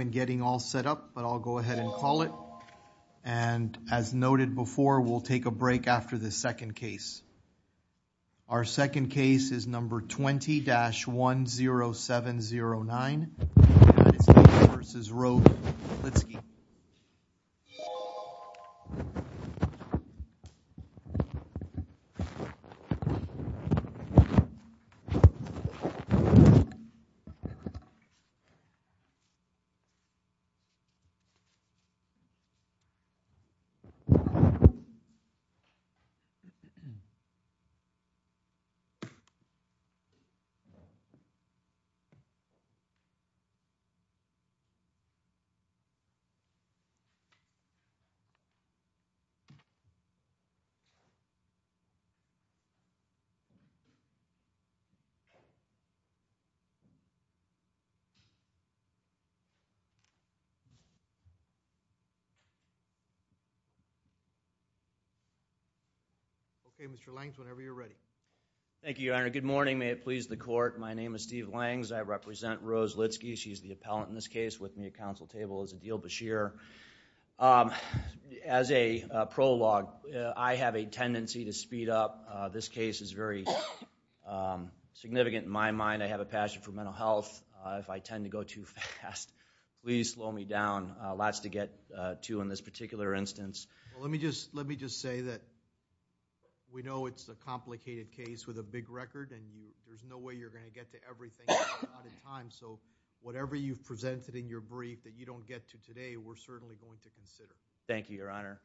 and getting all set up, but I'll go ahead and call it. And as noted before, we'll take a break after the second case. Our second case is number 20-10709 United States v. Rose Litzky. As noted before, we'll take a break after the second case. And as noted before, we'll take a break after the second case. Okay, Mr. Langs, whenever you're ready. Thank you, Your Honor. Good morning. May it please the court, my name is Steve Langs. I represent Rose Litsky. She's the appellant in this case with me at counsel table as Adil Bashir. As a prologue, I have a tendency to speed up. This case is very significant in my mind. I have a passion for mental health. If I tend to go too fast, please slow me down. Lots to get to in this particular instance. Well, let me just say that we know it's a complicated case with a big record, and there's no way you're going to get to everything at one time. So whatever you've presented in your brief that you don't get to today, we're certainly going to consider. Thank you, Your Honor.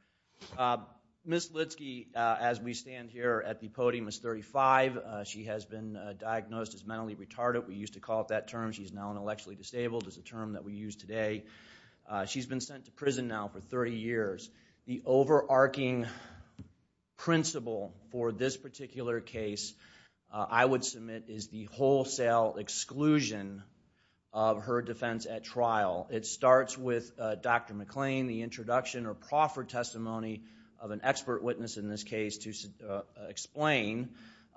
Ms. Litsky, as we stand here at the podium, is 35. She has been diagnosed as mentally retarded. We used to call it that term. She's now intellectually disabled. It's a term that we use today. She's been sent to prison now for 30 years. The overarching principle for this particular case, I would submit, is the wholesale exclusion of her defense at trial. It starts with Dr. McLean, the introduction or proffered testimony of an expert witness in this case to explain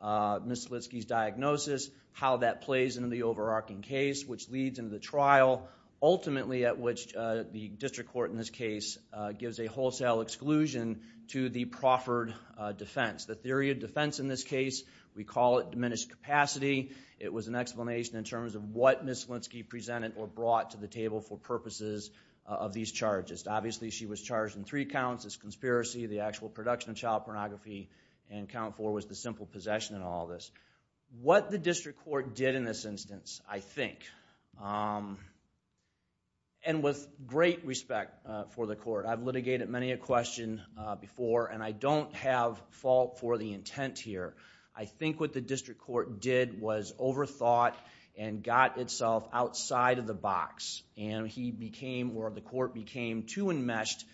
Ms. Litsky's diagnosis, how that plays into the overarching case, which leads into the trial, ultimately at which the district court in this case gives a wholesale exclusion to the proffered defense. The theory of defense in this case, we call it diminished capacity. It was an explanation in terms of what Ms. Litsky presented or brought to the table for purposes of these charges. Obviously, she was charged in three counts as conspiracy, the actual production of child pornography, and count four was the simple possession and all of this. What the district court did in this instance, I think, and with great respect for the court, I've litigated many a question before, and I don't have fault for the intent here. I think what the district court did was overthought and got itself outside of the box. The court became too enmeshed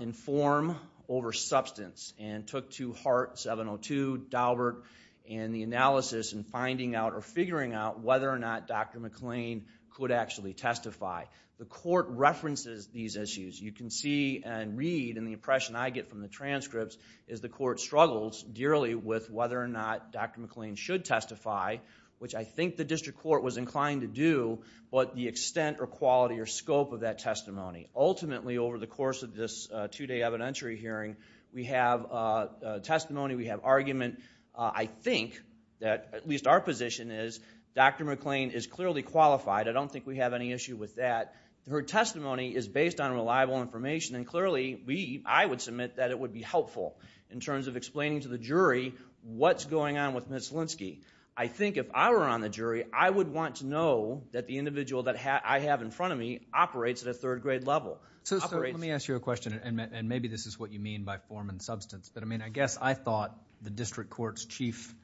in form over substance and took to Hart 702, Daubert, and the analysis and finding out or figuring out whether or not Dr. McLean could actually testify. The court references these issues. You can see and read, and the impression I get from the transcripts, is the court struggles dearly with whether or not Dr. McLean should testify, which I think the district court was inclined to do, but the extent or quality or scope of that testimony. Ultimately, over the course of this two-day evidentiary hearing, we have testimony, we have argument. I think that, at least our position is, Dr. McLean is clearly qualified. I don't think we have any issue with that. Her testimony is based on reliable information, and clearly, I would submit that it would be helpful in terms of explaining to the jury what's going on with Ms. Linsky. I think if I were on the jury, I would want to know that the individual that I have in front of me operates at a third-grade level. Let me ask you a question, and maybe this is what you mean by form and substance, but I guess I thought the district court's chief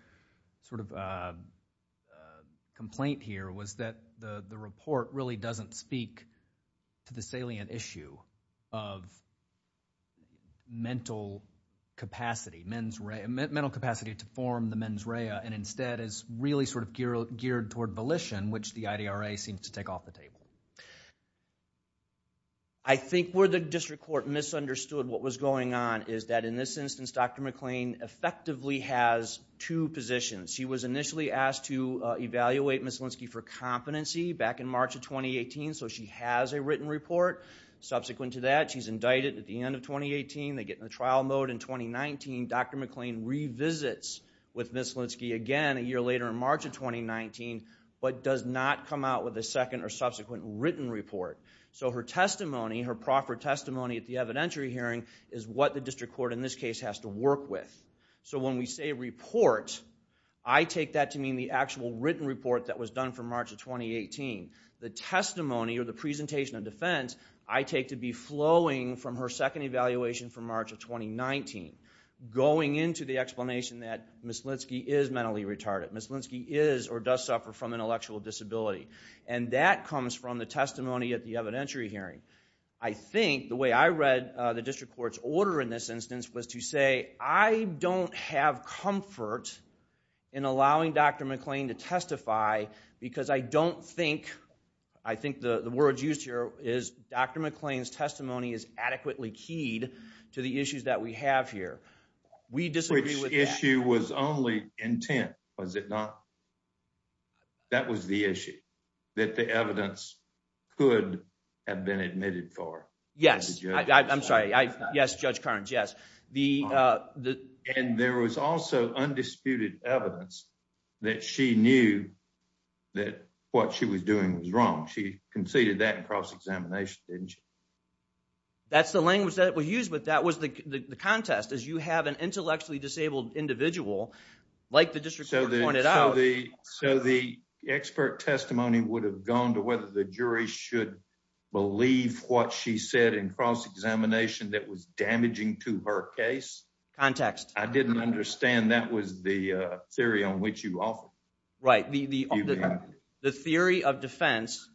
complaint here was that the report really doesn't speak to the salient issue of mental capacity to form the mens rea, and instead is really geared toward volition, which the IDRA seems to take off the table. I think where the district court misunderstood what was going on is that, in this instance, Dr. McLean effectively has two positions. She was initially asked to evaluate Ms. Linsky for competency back in March of 2018, so she has a written report. Subsequent to that, she's indicted at the end of 2018. They get in the trial mode in 2019. Dr. McLean revisits with Ms. Linsky again a year later in March of 2019, but does not come out with a second or subsequent written report. Her testimony, her proper testimony at the evidentiary hearing, is what the district court in this case has to work with. When we say report, I take that to mean the actual written report that was done for March of 2018. The testimony or the presentation of defense I take to be flowing from her second evaluation from March of 2019, going into the explanation that Ms. Linsky is mentally retarded. Ms. Linsky is or does suffer from intellectual disability, and that comes from the testimony at the evidentiary hearing. I think the way I read the district court's order in this instance was to say, I don't have comfort in allowing Dr. McLean to testify because I don't think, I think the word used here is Dr. McLean's testimony is adequately keyed to the issues that we have here. We disagree with that. Which issue was only intent, was it not? That was the issue, that the evidence could have been admitted for. Yes, I'm sorry. Yes, Judge Carnes, yes. And there was also undisputed evidence that she knew that what she was doing was wrong. She conceded that in cross-examination, didn't she? That's the language that was used, but that was the contest. As you have an intellectually disabled individual, like the district court pointed out. So the expert testimony would have gone to whether the jury should believe what she said in cross-examination that was damaging to her case? Context. I didn't understand that was the theory on which you offer. Right. The theory of defense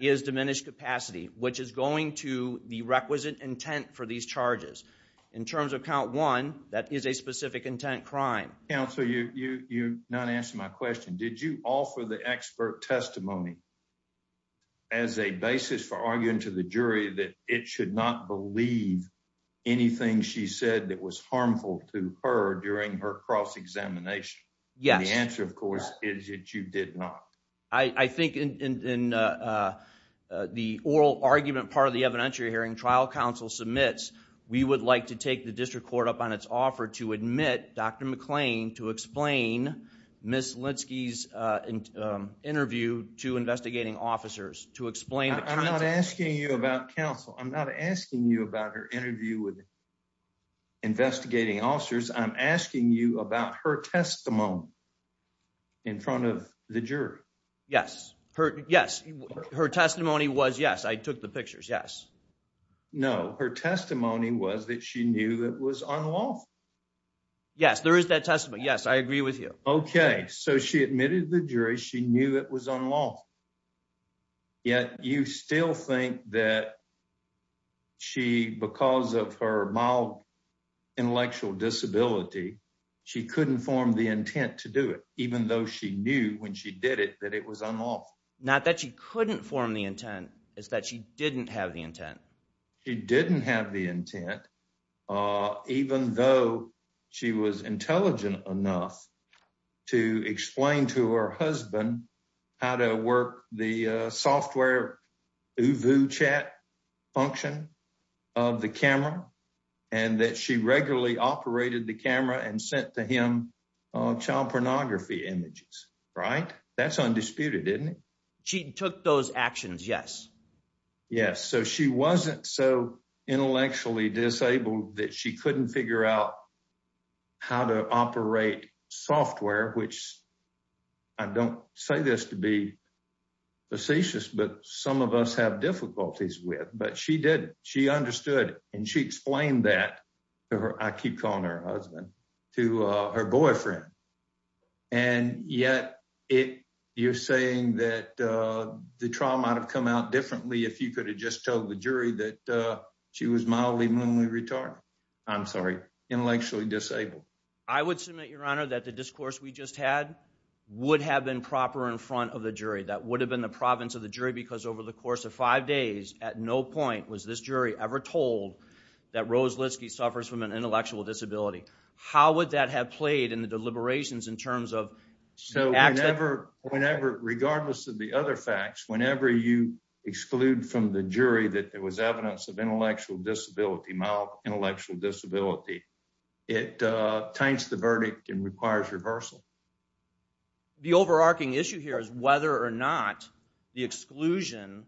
is diminished capacity, which is going to the requisite intent for these charges. In terms of count one, that is a specific intent crime. Counsel, you're not answering my question. Did you offer the expert testimony as a basis for arguing to the jury that it should not believe anything she said that was harmful to her during her cross-examination? The answer, of course, is that you did not. I think in the oral argument part of the evidentiary hearing, trial counsel submits, we would like to take the district court up on its offer to admit Dr. McClain to explain Ms. Linsky's interview to investigating officers. I'm not asking you about counsel. I'm not asking you about her interview with investigating officers. I'm asking you about her testimony in front of the jury. Yes. Yes. Her testimony was yes. I took the pictures. Yes. No, her testimony was that she knew that was unlawful. Yes, there is that testimony. Yes, I agree with you. Okay, so she admitted the jury. She knew it was unlawful. Yet you still think that she, because of her mild intellectual disability, she couldn't form the intent to do it, even though she knew when she did it that it was unlawful. Not that she couldn't form the intent. It's that she didn't have the intent. She didn't have the intent, even though she was intelligent enough to explain to her husband how to work the software OOVU chat function of the camera and that she regularly operated the camera and sent to him child pornography images. Right. That's undisputed, isn't it? She took those actions. Yes. So she wasn't so intellectually disabled that she couldn't figure out how to operate software, which I don't say this to be facetious, but some of us have difficulties with, but she did. She understood and she explained that to her. I keep calling her husband to her boyfriend. And yet it you're saying that the trauma might have come out differently if you could have just told the jury that she was mildly mentally retarded. I'm sorry intellectually disabled. I would submit, Your Honor, that the discourse we just had would have been proper in front of the jury. That would have been the province of the jury, because over the course of five days at no point was this jury ever told that Rose Litsky suffers from an intellectual disability. How would that have played in the deliberations in terms of. So whenever, whenever, regardless of the other facts, whenever you exclude from the jury that it was evidence of intellectual disability, intellectual disability, it taints the verdict and requires reversal. The overarching issue here is whether or not the exclusion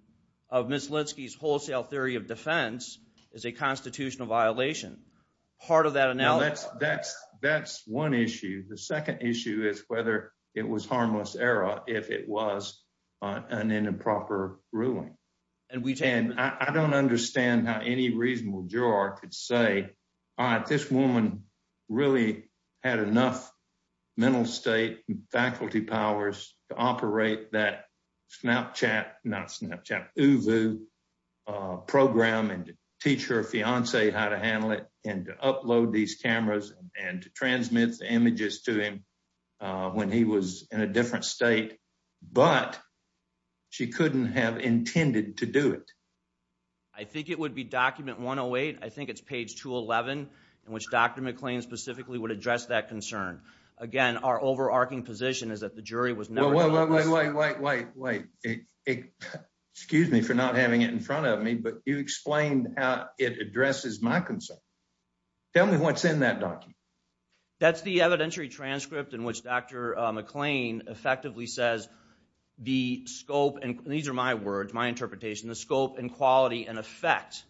of Miss Linsky's wholesale theory of defense is a constitutional violation. Part of that. Now, that's that's that's one issue. The second issue is whether it was harmless error if it was an improper ruling. And I don't understand how any reasonable juror could say, all right, this woman really had enough mental state and faculty powers to operate that Snapchat, not Snapchat, OOVU program and teach her fiance how to handle it and to upload these cameras and to transmit the images to him when he was in a different state. But she couldn't have intended to do it. I think it would be document 108. I think it's page 211 in which Dr. McLean specifically would address that concern. Again, our overarching position is that the jury was. Wait, wait, wait, wait, wait. Excuse me for not having it in front of me, but you explained how it addresses my concern. Tell me what's in that document. That's the evidentiary transcript in which Dr. McLean effectively says the scope. And these are my words, my interpretation, the scope and quality and effect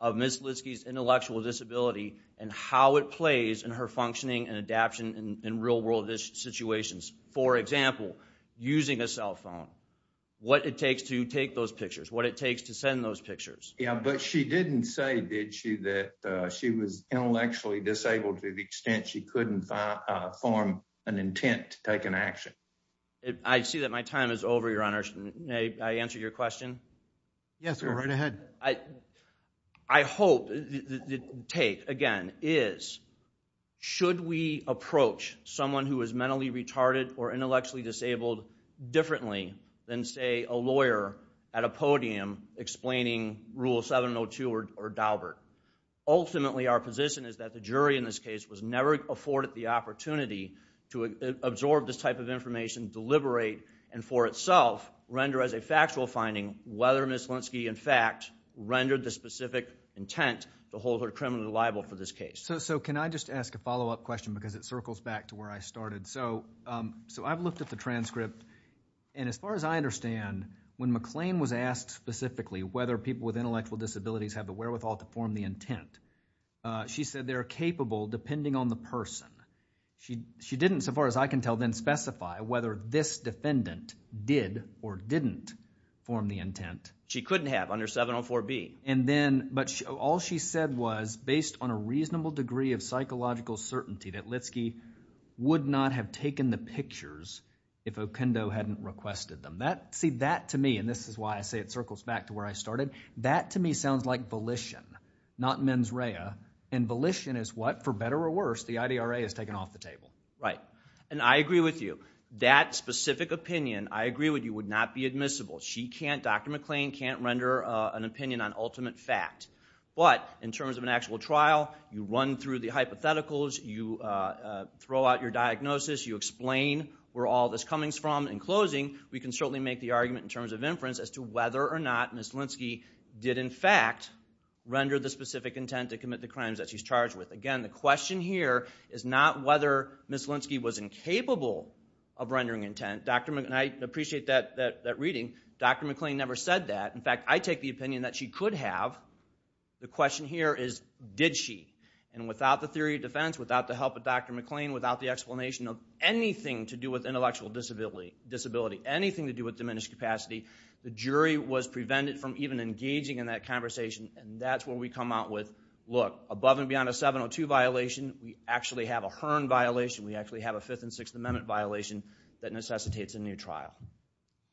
of Miss Linsky's intellectual disability and how it plays in her functioning and adaption in real world situations. For example, using a cell phone, what it takes to take those pictures, what it takes to send those pictures. Yeah, but she didn't say, did she, that she was intellectually disabled to the extent she couldn't form an intent to take an action. I see that my time is over, Your Honor. May I answer your question? Yes, sir. Right ahead. I hope the take, again, is should we approach someone who is mentally retarded or intellectually disabled differently than, say, a lawyer at a podium explaining Rule 702 or Daubert? Ultimately, our position is that the jury in this case was never afforded the opportunity to absorb this type of information, deliberate, and for itself render as a factual finding whether Miss Linsky, in fact, rendered the specific intent to hold her criminally liable for this case. So can I just ask a follow-up question because it circles back to where I started? So I've looked at the transcript, and as far as I understand, when McLean was asked specifically whether people with intellectual disabilities have the wherewithal to form the intent, she said they're capable depending on the person. She didn't, so far as I can tell, then specify whether this defendant did or didn't form the intent. She couldn't have under 704B. But all she said was based on a reasonable degree of psychological certainty that Linsky would not have taken the pictures if Okendo hadn't requested them. See, that to me, and this is why I say it circles back to where I started, that to me sounds like volition, not mens rea. And volition is what, for better or worse, the IDRA has taken off the table. Right, and I agree with you. That specific opinion, I agree with you, would not be admissible. She can't, Dr. McLean can't render an opinion on ultimate fact. But in terms of an actual trial, you run through the hypotheticals, you throw out your diagnosis, you explain where all this coming from. In closing, we can certainly make the argument in terms of inference as to whether or not Ms. Linsky did in fact render the specific intent to commit the crimes that she's charged with. Again, the question here is not whether Ms. Linsky was incapable of rendering intent. And I appreciate that reading. Dr. McLean never said that. In fact, I take the opinion that she could have. The question here is, did she? And without the theory of defense, without the help of Dr. McLean, without the explanation of anything to do with intellectual disability, anything to do with diminished capacity, the jury was prevented from even engaging in that conversation. And that's where we come out with, look, above and beyond a 702 violation, we actually have a Hearn violation, we actually have a Fifth and Sixth Amendment violation that necessitates a new trial.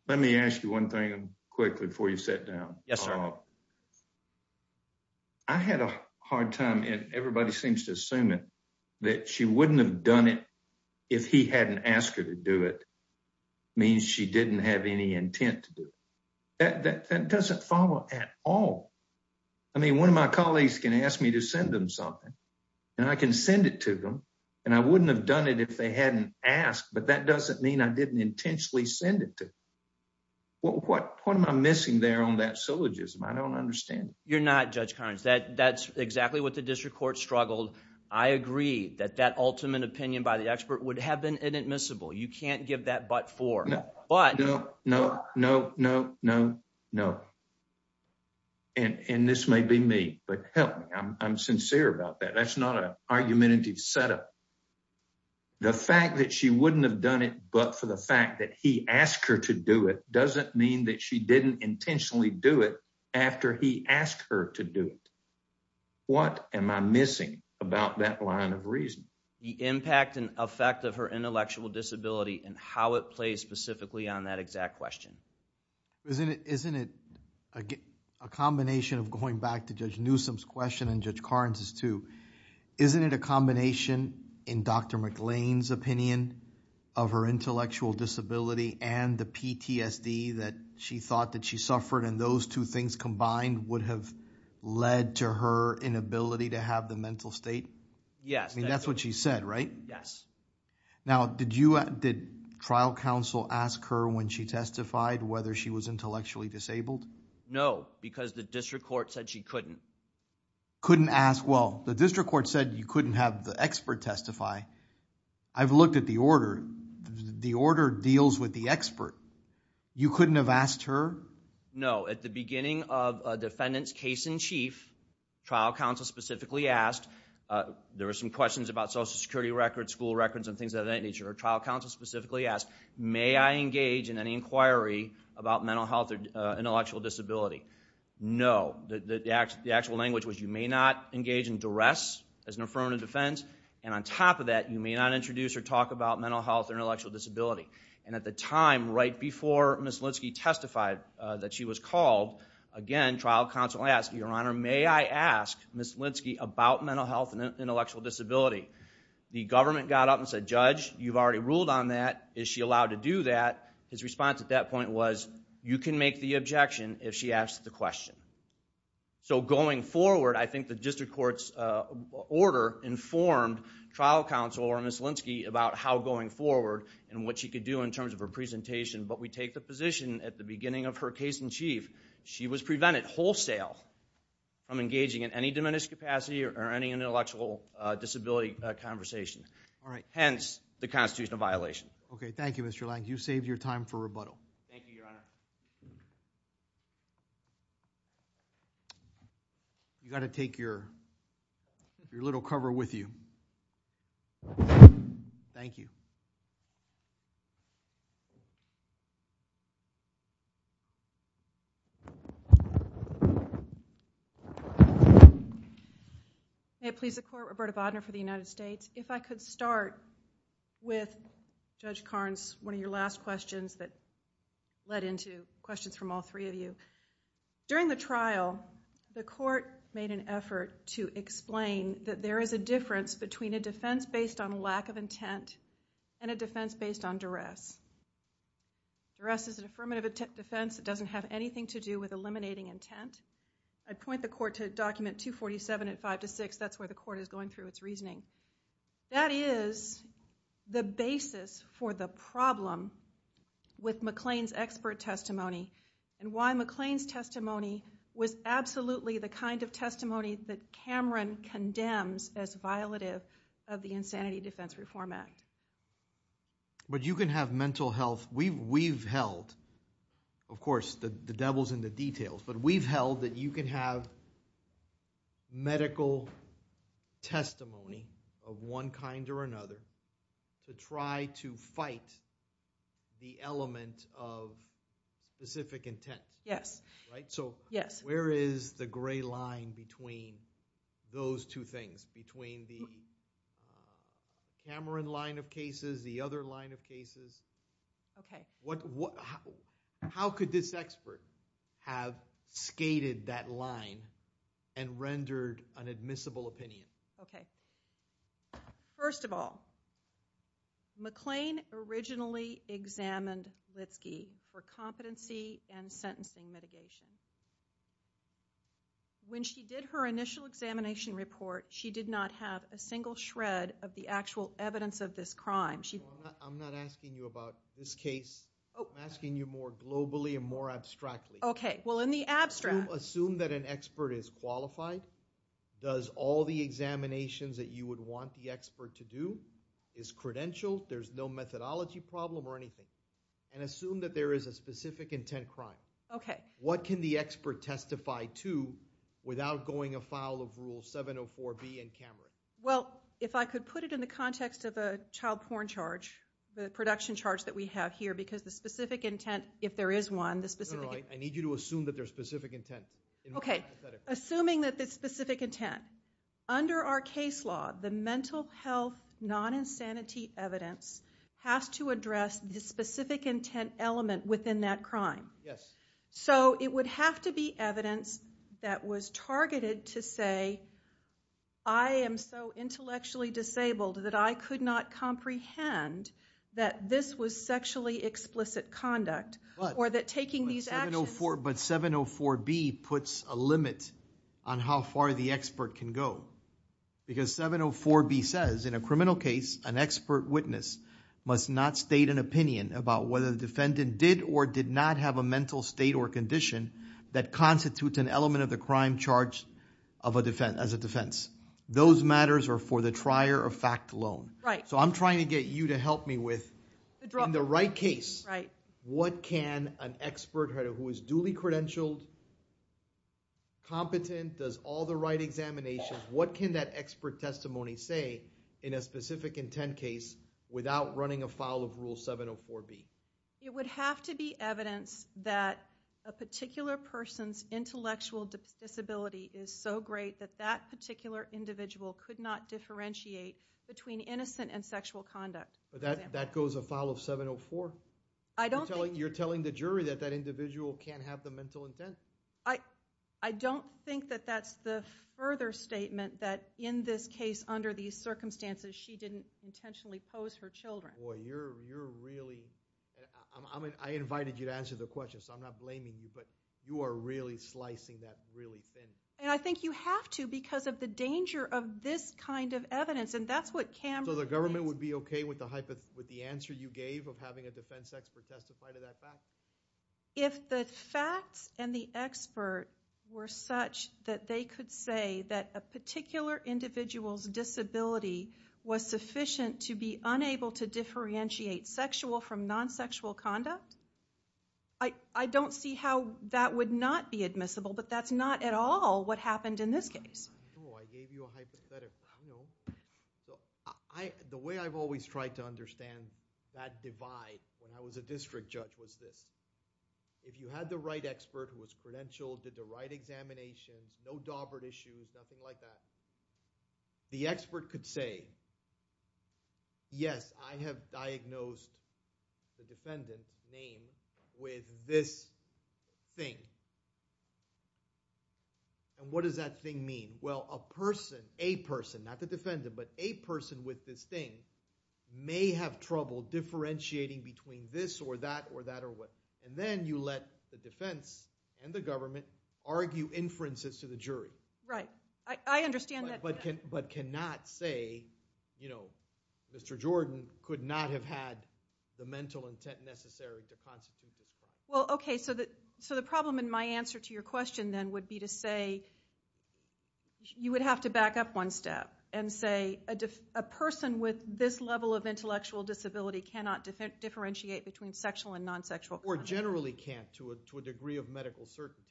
Let me ask you one thing quickly before you sit down. Yes, sir. I had a hard time, and everybody seems to assume it, that she wouldn't have done it if he hadn't asked her to do it means she didn't have any intent to do it. That doesn't follow at all. I mean, one of my colleagues can ask me to send them something, and I can send it to them, and I wouldn't have done it if they hadn't asked. But that doesn't mean I didn't intentionally send it to them. What am I missing there on that syllogism? I don't understand. You're not, Judge Carnes. That's exactly what the district court struggled. I agree that that ultimate opinion by the expert would have been inadmissible. You can't give that but for. No, no, no, no, no, no. And this may be me, but help me. I'm sincere about that. That's not an argumentative setup. The fact that she wouldn't have done it but for the fact that he asked her to do it doesn't mean that she didn't intentionally do it after he asked her to do it. What am I missing about that line of reason? The impact and effect of her intellectual disability and how it plays specifically on that exact question. Isn't it a combination of going back to Judge Newsom's question and Judge Carnes' too? Isn't it a combination in Dr. McLean's opinion of her intellectual disability and the PTSD that she thought that she suffered and those two things combined would have led to her inability to have the mental state? Yes. I mean, that's what she said, right? Yes. Now, did trial counsel ask her when she testified whether she was intellectually disabled? No, because the district court said she couldn't. Couldn't ask. Well, the district court said you couldn't have the expert testify. I've looked at the order. The order deals with the expert. You couldn't have asked her? No. At the beginning of a defendant's case in chief, trial counsel specifically asked. There were some questions about social security records, school records, and things of that nature. Trial counsel specifically asked, may I engage in any inquiry about mental health or intellectual disability? No. The actual language was you may not engage in duress as an affirmative defense, and on top of that, you may not introduce or talk about mental health or intellectual disability. And at the time, right before Ms. Linsky testified that she was called, again, trial counsel asked, Your Honor, may I ask Ms. Linsky about mental health and intellectual disability? The government got up and said, Judge, you've already ruled on that. Is she allowed to do that? His response at that point was, you can make the objection if she asks the question. So going forward, I think the district court's order informed trial counsel or Ms. Linsky about how going forward and what she could do in terms of her presentation. But we take the position at the beginning of her case in chief, she was prevented wholesale from engaging in any diminished capacity or any intellectual disability conversation. All right. Hence, the constitutional violation. Okay, thank you, Mr. Lang. You saved your time for rebuttal. Thank you, Your Honor. You've got to take your little cover with you. Thank you. May it please the court, Roberta Bodner for the United States. If I could start with Judge Carnes, one of your last questions that led into questions from all three of you. During the trial, the court made an effort to explain that there is a difference between a defense based on lack of intent and a defense based on duress. Duress is an affirmative defense. It doesn't have anything to do with eliminating intent. I'd point the court to Document 247 at 5 to 6. That's where the court is going through its reasoning. That is the basis for the problem with McLean's expert testimony and why McLean's testimony was absolutely the kind of testimony that Cameron condemns as violative of the Insanity Defense Reform Act. But you can have mental health... Of course, the devil's in the details, but we've held that you can have medical testimony of one kind or another to try to fight the element of specific intent. Yes. Where is the gray line between those two things, between the Cameron line of cases, the other line of cases? Okay. How could this expert have skated that line and rendered an admissible opinion? Okay. First of all, McLean originally examined Litsky for competency and sentencing mitigation. When she did her initial examination report, she did not have a single shred of the actual evidence of this crime. I'm not asking you about this case. I'm asking you more globally and more abstractly. Okay. Well, in the abstract... Assume that an expert is qualified, does all the examinations that you would want the expert to do, is credentialed, there's no methodology problem or anything, and assume that there is a specific intent crime. Okay. What can the expert testify to without going afoul of Rule 704B in Cameron? Well, if I could put it in the context of a child porn charge, the production charge that we have here, because the specific intent, if there is one... No, no, no. I need you to assume that there's specific intent. Okay. Assuming that there's specific intent. Under our case law, the mental health non-insanity evidence has to address the specific intent element within that crime. Yes. So, it would have to be evidence that was targeted to say, I am so intellectually disabled that I could not comprehend that this was sexually explicit conduct. But... Or that taking these actions...... that constitutes an element of the crime charged as a defense. Those matters are for the trier of fact alone. Right. So, I'm trying to get you to help me with, in the right case, what can an expert who is duly credentialed, competent, does all the right examinations, what can that expert testimony say in a specific intent case without running afoul of Rule 704B? It would have to be evidence that a particular person's intellectual disability is so great that that particular individual could not differentiate between innocent and sexual conduct. That goes afoul of 704? I don't think... You're telling the jury that that individual can't have the mental intent? I don't think that that's the further statement that in this case, under these circumstances, she didn't intentionally pose her children. Boy, you're really... I invited you to answer the question, so I'm not blaming you, but you are really slicing that really thin. And I think you have to because of the danger of this kind of evidence, and that's what Cameron... So, the government would be okay with the answer you gave of having a defense expert testify to that fact? If the facts and the expert were such that they could say that a particular individual's disability was sufficient to be unable to differentiate sexual from non-sexual conduct, I don't see how that would not be admissible, but that's not at all what happened in this case. Oh, I gave you a hypothetical. I know. So, the way I've always tried to understand that divide when I was a district judge was this. If you had the right expert who was credentialed, did the right examination, no daubered issues, nothing like that, the expert could say, yes, I have diagnosed the defendant's name with this thing. And what does that thing mean? Well, a person, a person, not the defendant, but a person with this thing may have trouble differentiating between this or that or that or what. And then you let the defense and the government argue inferences to the jury. Right. I understand that... But cannot say, you know, Mr. Jordan could not have had the mental intent necessary to constitute... Well, okay, so the problem in my answer to your question then would be to say you would have to back up one step and say a person with this level of intellectual disability cannot differentiate between sexual and non-sexual... Or generally can't to a degree of medical certainty.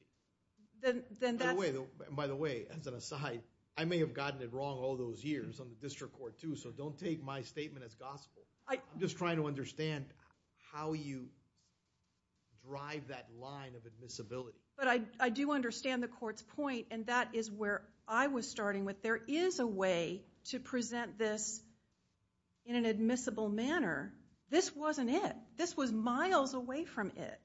By the way, as an aside, I may have gotten it wrong all those years on the district court too, so don't take my statement as gospel. I'm just trying to understand how you drive that line of admissibility. But I do understand the court's point, and that is where I was starting with. There is a way to present this in an admissible manner. This wasn't it. This was miles away from it.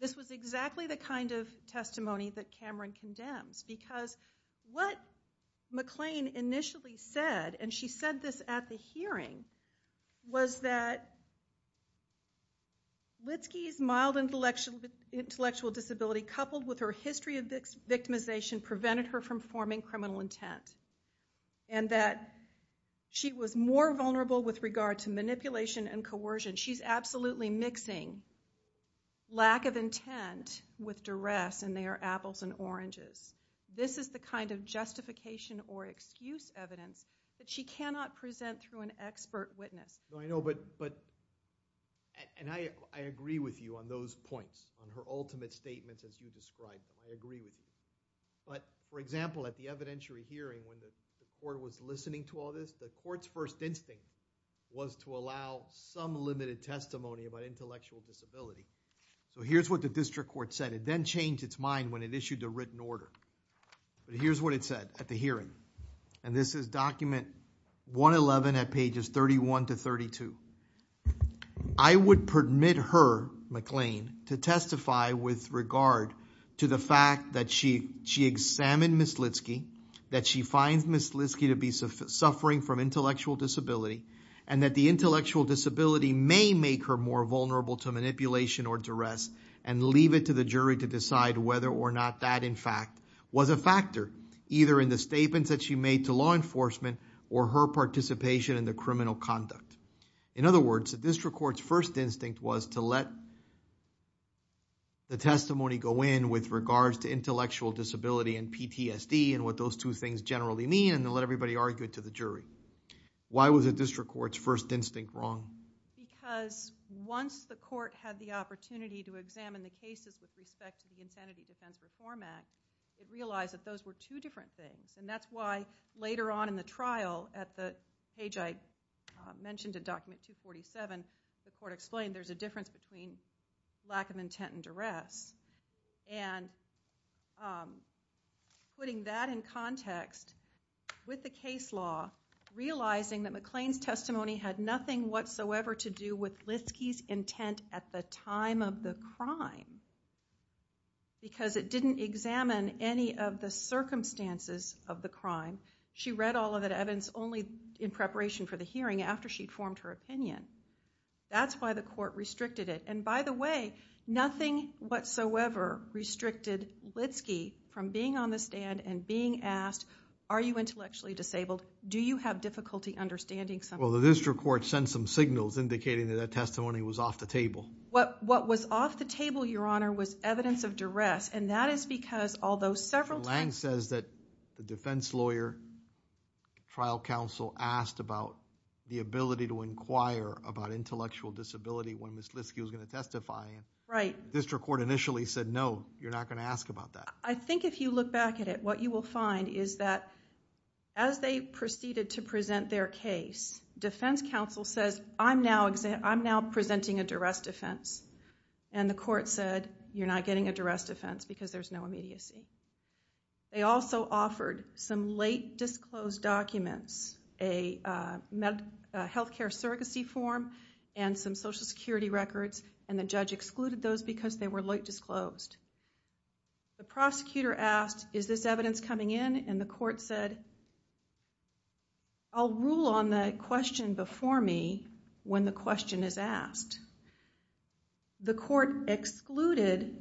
This was exactly the kind of testimony that Cameron condemns. Because what McLean initially said, and she said this at the hearing, was that Litsky's mild intellectual disability coupled with her history of victimization prevented her from forming criminal intent. And that she was more vulnerable with regard to manipulation and coercion. She's absolutely mixing lack of intent with duress, and they are apples and oranges. This is the kind of justification or excuse evidence that she cannot present through an expert witness. I know, but... and I agree with you on those points, on her ultimate statements as you described. I agree with you. But, for example, at the evidentiary hearing when the court was listening to all this, the court's first instinct was to allow some limited testimony about intellectual disability. So here's what the district court said. It then changed its mind when it issued the written order. Here's what it said at the hearing, and this is document 111 at pages 31 to 32. I would permit her, McLean, to testify with regard to the fact that she examined Ms. Litsky, that she finds Ms. Litsky to be suffering from intellectual disability, and that the intellectual disability may make her more vulnerable to manipulation or duress, and leave it to the jury to decide whether or not that, in fact, was a factor, either in the statements that she made to law enforcement or her participation in the criminal conduct. In other words, the district court's first instinct was to let the testimony go in with regards to intellectual disability and PTSD and what those two things generally mean, and to let everybody argue it to the jury. Why was the district court's first instinct wrong? Because once the court had the opportunity to examine the cases with respect to the Incentive Defense Reform Act, it realized that those were two different things, and that's why later on in the trial, at the page I mentioned in document 247, the court explained there's a difference between lack of intent and duress, and putting that in context with the case law, realizing that McLean's testimony had nothing whatsoever to do with Litsky's intent at the time of the crime, because it didn't examine any of the circumstances of the crime. She read all of that evidence only in preparation for the hearing, after she'd formed her opinion. That's why the court restricted it. And by the way, nothing whatsoever restricted Litsky from being on the stand and being asked, are you intellectually disabled? Do you have difficulty understanding something? Well, the district court sent some signals indicating that that testimony was off the table. What was off the table, Your Honor, was evidence of duress, and that is because although several times... about intellectual disability when Ms. Litsky was going to testify, the district court initially said, no, you're not going to ask about that. I think if you look back at it, what you will find is that as they proceeded to present their case, defense counsel says, I'm now presenting a duress defense, and the court said, you're not getting a duress defense because there's no immediacy. They also offered some late disclosed documents, a health care surrogacy form and some social security records, and the judge excluded those because they were late disclosed. The prosecutor asked, is this evidence coming in? And the court said, I'll rule on the question before me when the question is asked. The court excluded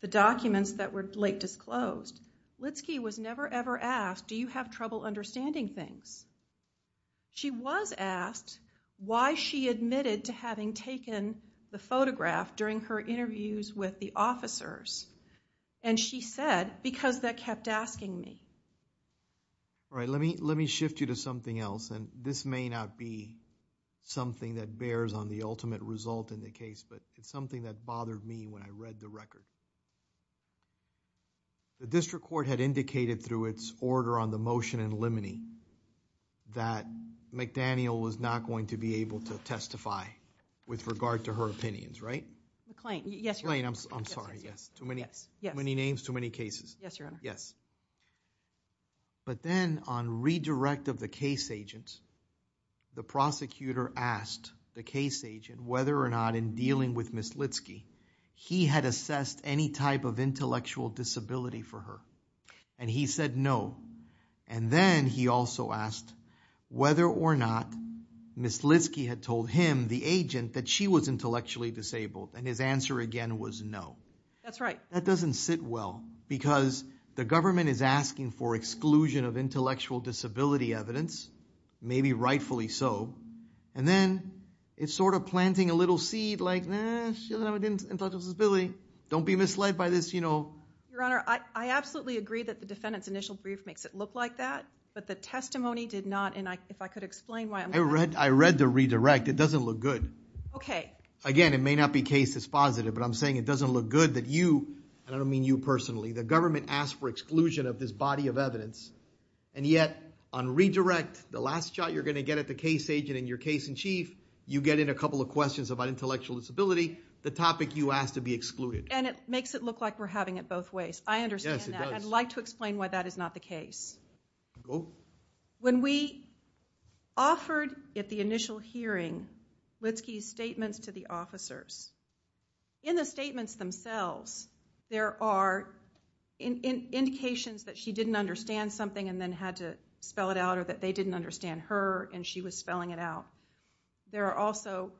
the documents that were late disclosed. Litsky was never, ever asked, do you have trouble understanding things? She was asked why she admitted to having taken the photograph during her interviews with the officers, and she said, because they kept asking me. All right, let me shift you to something else, and this may not be something that bears on the ultimate result in the case, but it's something that bothered me when I read the record. The district court had indicated through its order on the motion in limine, that McDaniel was not going to be able to testify with regard to her opinions, right? McLean, yes, Your Honor. McLean, I'm sorry. Too many names, too many cases. Yes, Your Honor. Yes. But then on redirect of the case agents, the prosecutor asked the case agent whether or not in dealing with Ms. Litsky, he had assessed any type of intellectual disability for her, and he said no. And then he also asked whether or not Ms. Litsky had told him, the agent, that she was intellectually disabled, and his answer again was no. That's right. That doesn't sit well, because the government is asking for exclusion of intellectual disability evidence, maybe rightfully so, and then it's sort of planting a little seed like, no, she doesn't have an intellectual disability, don't be misled by this, you know. Your Honor, I absolutely agree that the defendant's initial brief makes it look like that, but the testimony did not, and if I could explain why I'm not. I read the redirect. It doesn't look good. Okay. Again, it may not be case dispositive, but I'm saying it doesn't look good that you, and I don't mean you personally, the government asked for exclusion of this body of evidence, and yet on redirect, the last shot you're going to get at the case agent in your case in chief, you get in a couple of questions about intellectual disability, the topic you asked to be excluded. And it makes it look like we're having it both ways. I understand that. Yes, it does. I'd like to explain why that is not the case. Go. When we offered at the initial hearing Witzke's statements to the officers, in the statements themselves there are indications that she didn't understand something and then had to spell it out or that they didn't understand her and she was spelling it out. There are also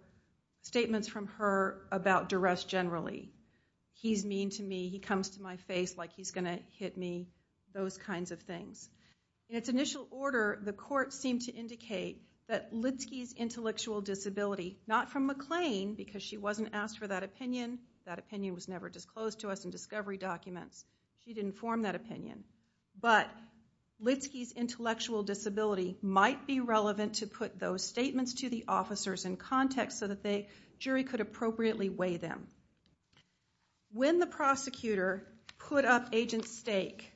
statements from her about duress generally. He's mean to me. He comes to my face like he's going to hit me, those kinds of things. In its initial order, the court seemed to indicate that Witzke's intellectual disability, not from McLean because she wasn't asked for that opinion. That opinion was never disclosed to us in discovery documents. She didn't form that opinion. But Witzke's intellectual disability might be relevant to put those statements to the officers in context so that the jury could appropriately weigh them. When the prosecutor put up agent's stake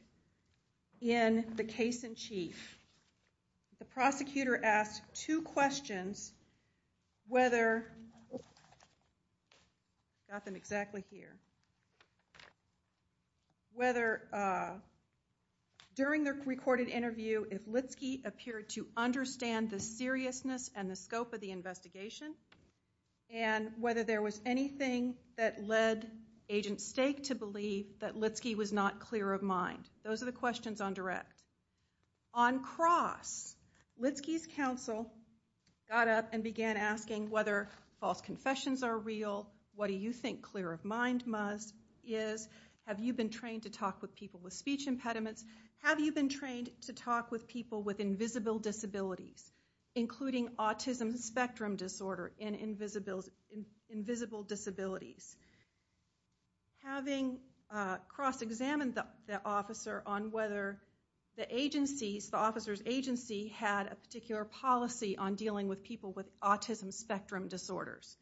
in the case in chief, the prosecutor asked two questions whether, I've got them exactly here, whether during the recorded interview if Witzke appeared to understand the seriousness and the scope of the investigation and whether there was anything that led agent's stake to believe that Witzke was not clear of mind. Those are the questions on direct. On cross, Witzke's counsel got up and began asking whether false confessions are real, what do you think clear of mind is, have you been trained to talk with people with speech impediments, have you been trained to talk with people with invisible disabilities, including autism spectrum disorder and invisible disabilities. Having cross examined the officer on whether the agency, the officer's agency had a particular policy on dealing with people with autism spectrum disorders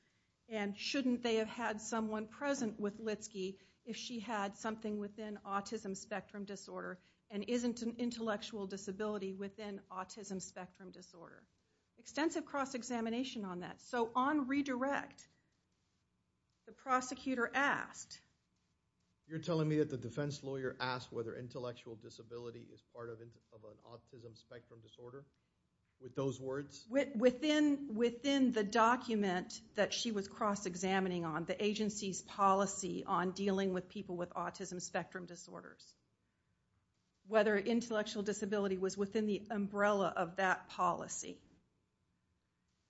and shouldn't they have had someone present with Witzke if she had something within autism spectrum disorder and isn't an intellectual disability within autism spectrum disorder. Extensive cross examination on that. So on redirect, the prosecutor asked. You're telling me that the defense lawyer asked whether intellectual disability was part of an autism spectrum disorder? With those words? Within the document that she was cross examining on, the agency's policy on dealing with people with autism spectrum disorders. Whether intellectual disability was within the umbrella of that policy.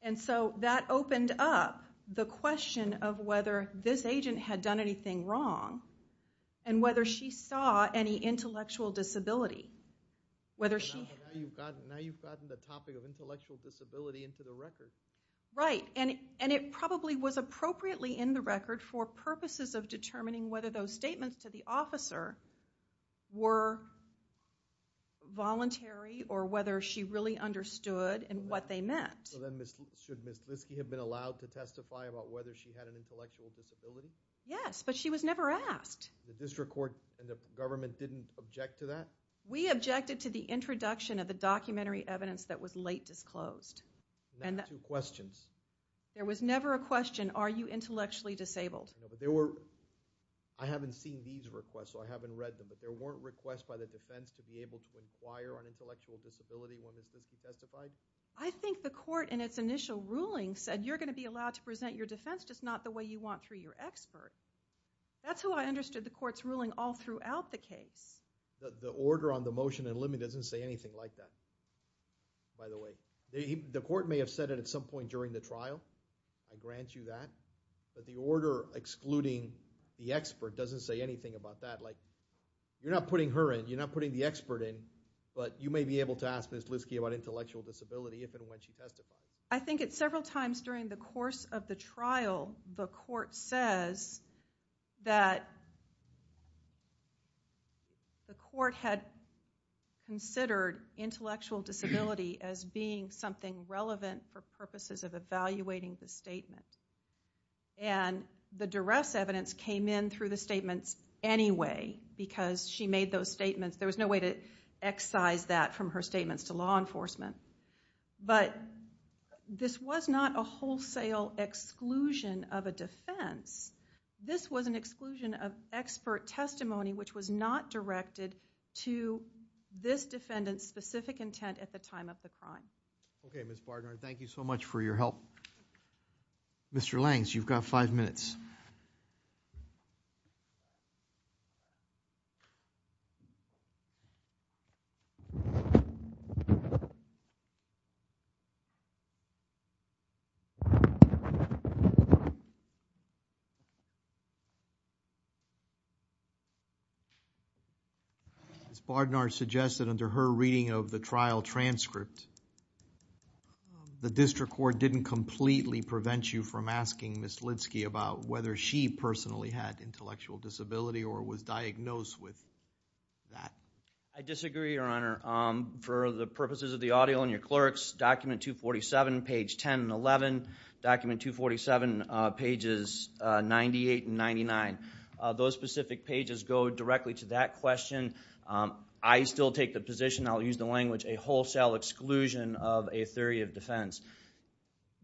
And so that opened up the question of whether this agent had done anything wrong and whether she saw any intellectual disability. Now you've gotten the topic of intellectual disability into the record. Right. And it probably was appropriately in the record for purposes of determining whether those statements to the officer were voluntary or whether she really understood what they meant. So then should Ms. Witzke have been allowed to testify about whether she had an intellectual disability? Yes, but she was never asked. The district court and the government didn't object to that? We objected to the introduction of the documentary evidence that was late disclosed. There were never two questions. There was never a question, are you intellectually disabled? I haven't seen these requests, so I haven't read them, but there weren't requests by the defense to be able to inquire on intellectual disability when the case was testified? I think the court in its initial ruling said, you're going to be allowed to present your defense, just not the way you want through your expert. That's how I understood the court's ruling all throughout the case. The order on the motion and limit doesn't say anything like that, by the way. The court may have said it at some point during the trial, I grant you that, but the order excluding the expert doesn't say anything about that. You're not putting her in, you're not putting the expert in, but you may be able to ask Ms. Witzke about intellectual disability if and when she testifies. I think it's several times during the course of the trial the court says that the court had considered intellectual disability as being something relevant for purposes of evaluating the statement. The duress evidence came in through the statements anyway, because she made those statements. There was no way to excise that from her statements to law enforcement. But this was not a wholesale exclusion of a defense. This was an exclusion of expert testimony, which was not directed to this defendant's specific intent at the time of the crime. Okay, Ms. Barnard, thank you so much for your help. Mr. Langs, you've got five minutes. Ms. Barnard suggested under her reading of the trial transcript, the district court didn't completely prevent you from asking Ms. Witzke about whether she personally had intellectual disability or was diagnosed with that. I disagree, Your Honor. For the purposes of the audio and your clerks, document 247, page 10 and 11, document 247, pages 98 and 99. Those specific pages go directly to that question. I still take the position, I'll use the language, a wholesale exclusion of a theory of defense.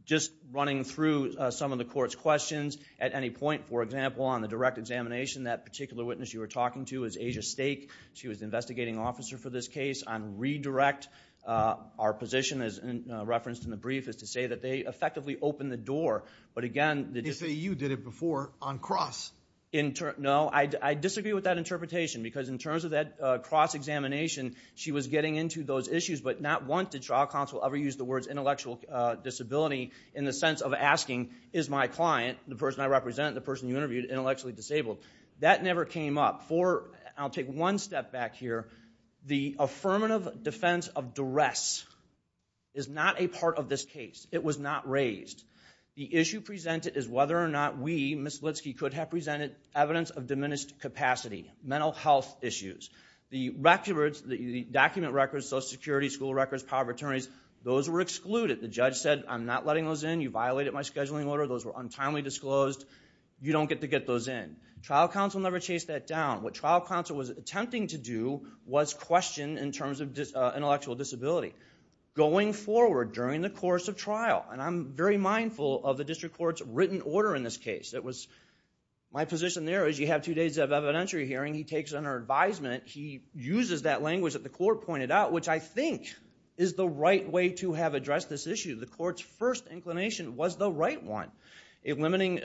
Just running through some of the court's questions, at any point, for example, on the direct examination, that particular witness you were talking to is Asia Stake. She was the investigating officer for this case. On redirect, our position, as referenced in the brief, is to say that they effectively opened the door. They say you did it before on cross. No, I disagree with that interpretation because in terms of that cross-examination, she was getting into those issues, but not once did trial counsel ever use the words intellectual disability in the sense of asking, is my client, the person I represent, the person you interviewed, intellectually disabled? That never came up. I'll take one step back here. The affirmative defense of duress is not a part of this case. It was not raised. The issue presented is whether or not we, Ms. Litsky, could have presented evidence of diminished capacity, mental health issues. The document records, Social Security, school records, power of attorneys, those were excluded. The judge said, I'm not letting those in. You violated my scheduling order. Those were untimely disclosed. You don't get to get those in. Trial counsel never chased that down. What trial counsel was attempting to do was question in terms of intellectual disability. Going forward during the course of trial, and I'm very mindful of the district court's written order in this case. My position there is you have two days of evidentiary hearing. He takes it under advisement. He uses that language that the court pointed out, which I think is the right way to have addressed this issue. The court's first inclination was the right one. A limiting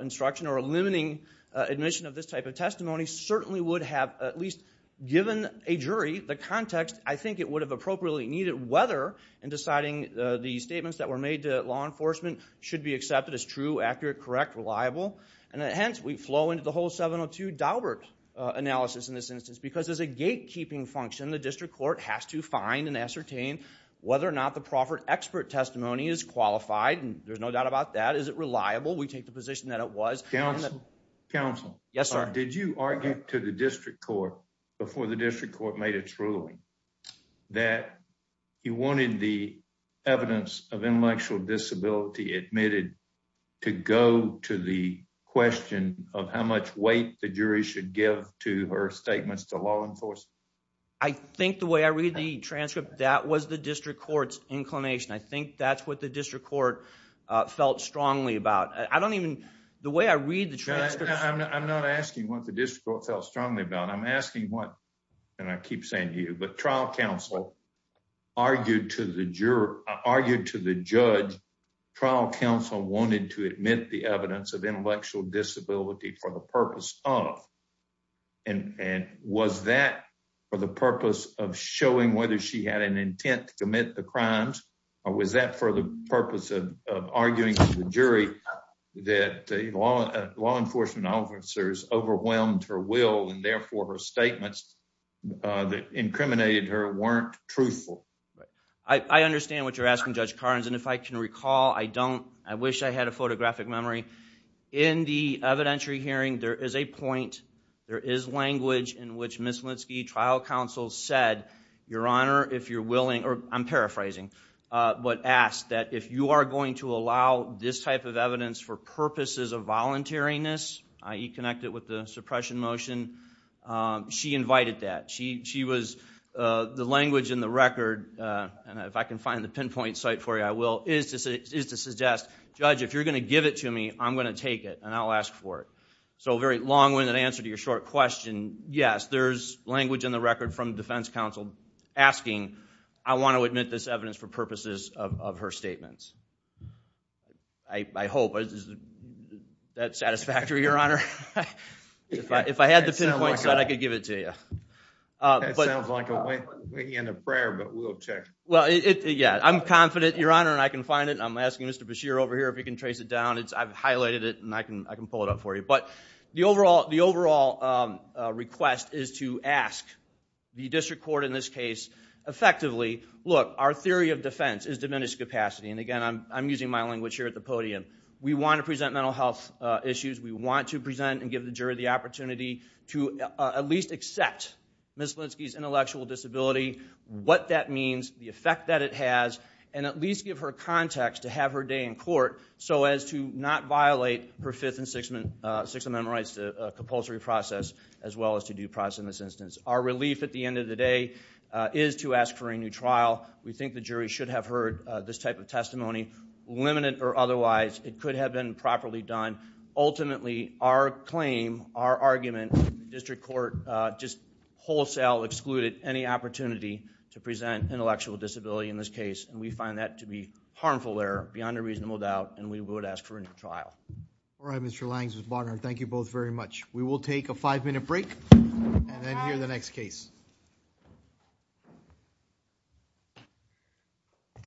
instruction or a limiting admission of this type of testimony certainly would have, at least given a jury, the context, I think it would have appropriately needed, whether in deciding the statements that were made to law enforcement should be accepted as true, accurate, correct, reliable. Hence, we flow into the whole 702 Daubert analysis in this instance because as a gatekeeping function, the district court has to find and ascertain whether or not the proffered expert testimony is qualified. There's no doubt about that. Is it reliable? We take the position that it was. Counsel. Yes, sir. Did you argue to the district court before the district court made its ruling that you wanted the evidence of intellectual disability admitted to go to the question of how much weight the jury should give to her statements to law enforcement? I think the way I read the transcript, that was the district court's inclination. I think that's what the district court felt strongly about. I don't even... The way I read the transcript... I'm not asking what the district court felt strongly about. I'm asking what... And I keep saying to you, but trial counsel argued to the judge, trial counsel wanted to admit the evidence of intellectual disability for the purpose of... And was that for the purpose of showing whether she had an intent to commit the crimes or was that for the purpose of arguing to the jury that law enforcement officers overwhelmed her will and therefore her statements that incriminated her weren't truthful? I understand what you're asking, Judge Carnes, and if I can recall, I don't... I wish I had a photographic memory. In the evidentiary hearing, there is a point, there is language in which Ms. Mlinsky, trial counsel, said, Your Honor, if you're willing... I'm paraphrasing. But asked that if you are going to allow this type of evidence for purposes of voluntariness, i.e. connect it with the suppression motion, she invited that. She was... The language in the record, and if I can find the pinpoint site for you, I will, is to suggest, Judge, if you're going to give it to me, I'm going to take it and I'll ask for it. So a very long-winded answer to your short question, yes, there's language in the record from defense counsel asking, I want to admit this evidence for purposes of her statements. I hope that's satisfactory, Your Honor. If I had the pinpoint site, I could give it to you. That sounds like a winking and a prayer, but we'll check. Well, yeah, I'm confident, Your Honor, and I can find it. I'm asking Mr. Beshear over here if he can trace it down. I've highlighted it, and I can pull it up for you. But the overall request is to ask the district court in this case, effectively, look, our theory of defense is diminished capacity. And again, I'm using my language here at the podium. We want to present mental health issues. We want to present and give the jury the opportunity to at least accept Ms. Blinsky's intellectual disability, what that means, the effect that it has, and at least give her context to have her day in court so as to not violate her Fifth and Sixth Amendment rights to compulsory process as well as to due process in this instance. Our relief at the end of the day is to ask for a new trial. We think the jury should have heard this type of testimony, limited or otherwise. It could have been properly done. Ultimately, our claim, our argument, district court just wholesale excluded any opportunity to present intellectual disability in this case, and we find that to be harmful there, beyond a reasonable doubt, and we would ask for a new trial. All right, Mr. Langs, Ms. Bodnar, thank you both very much. We will take a five-minute break and then hear the next case. Thank you.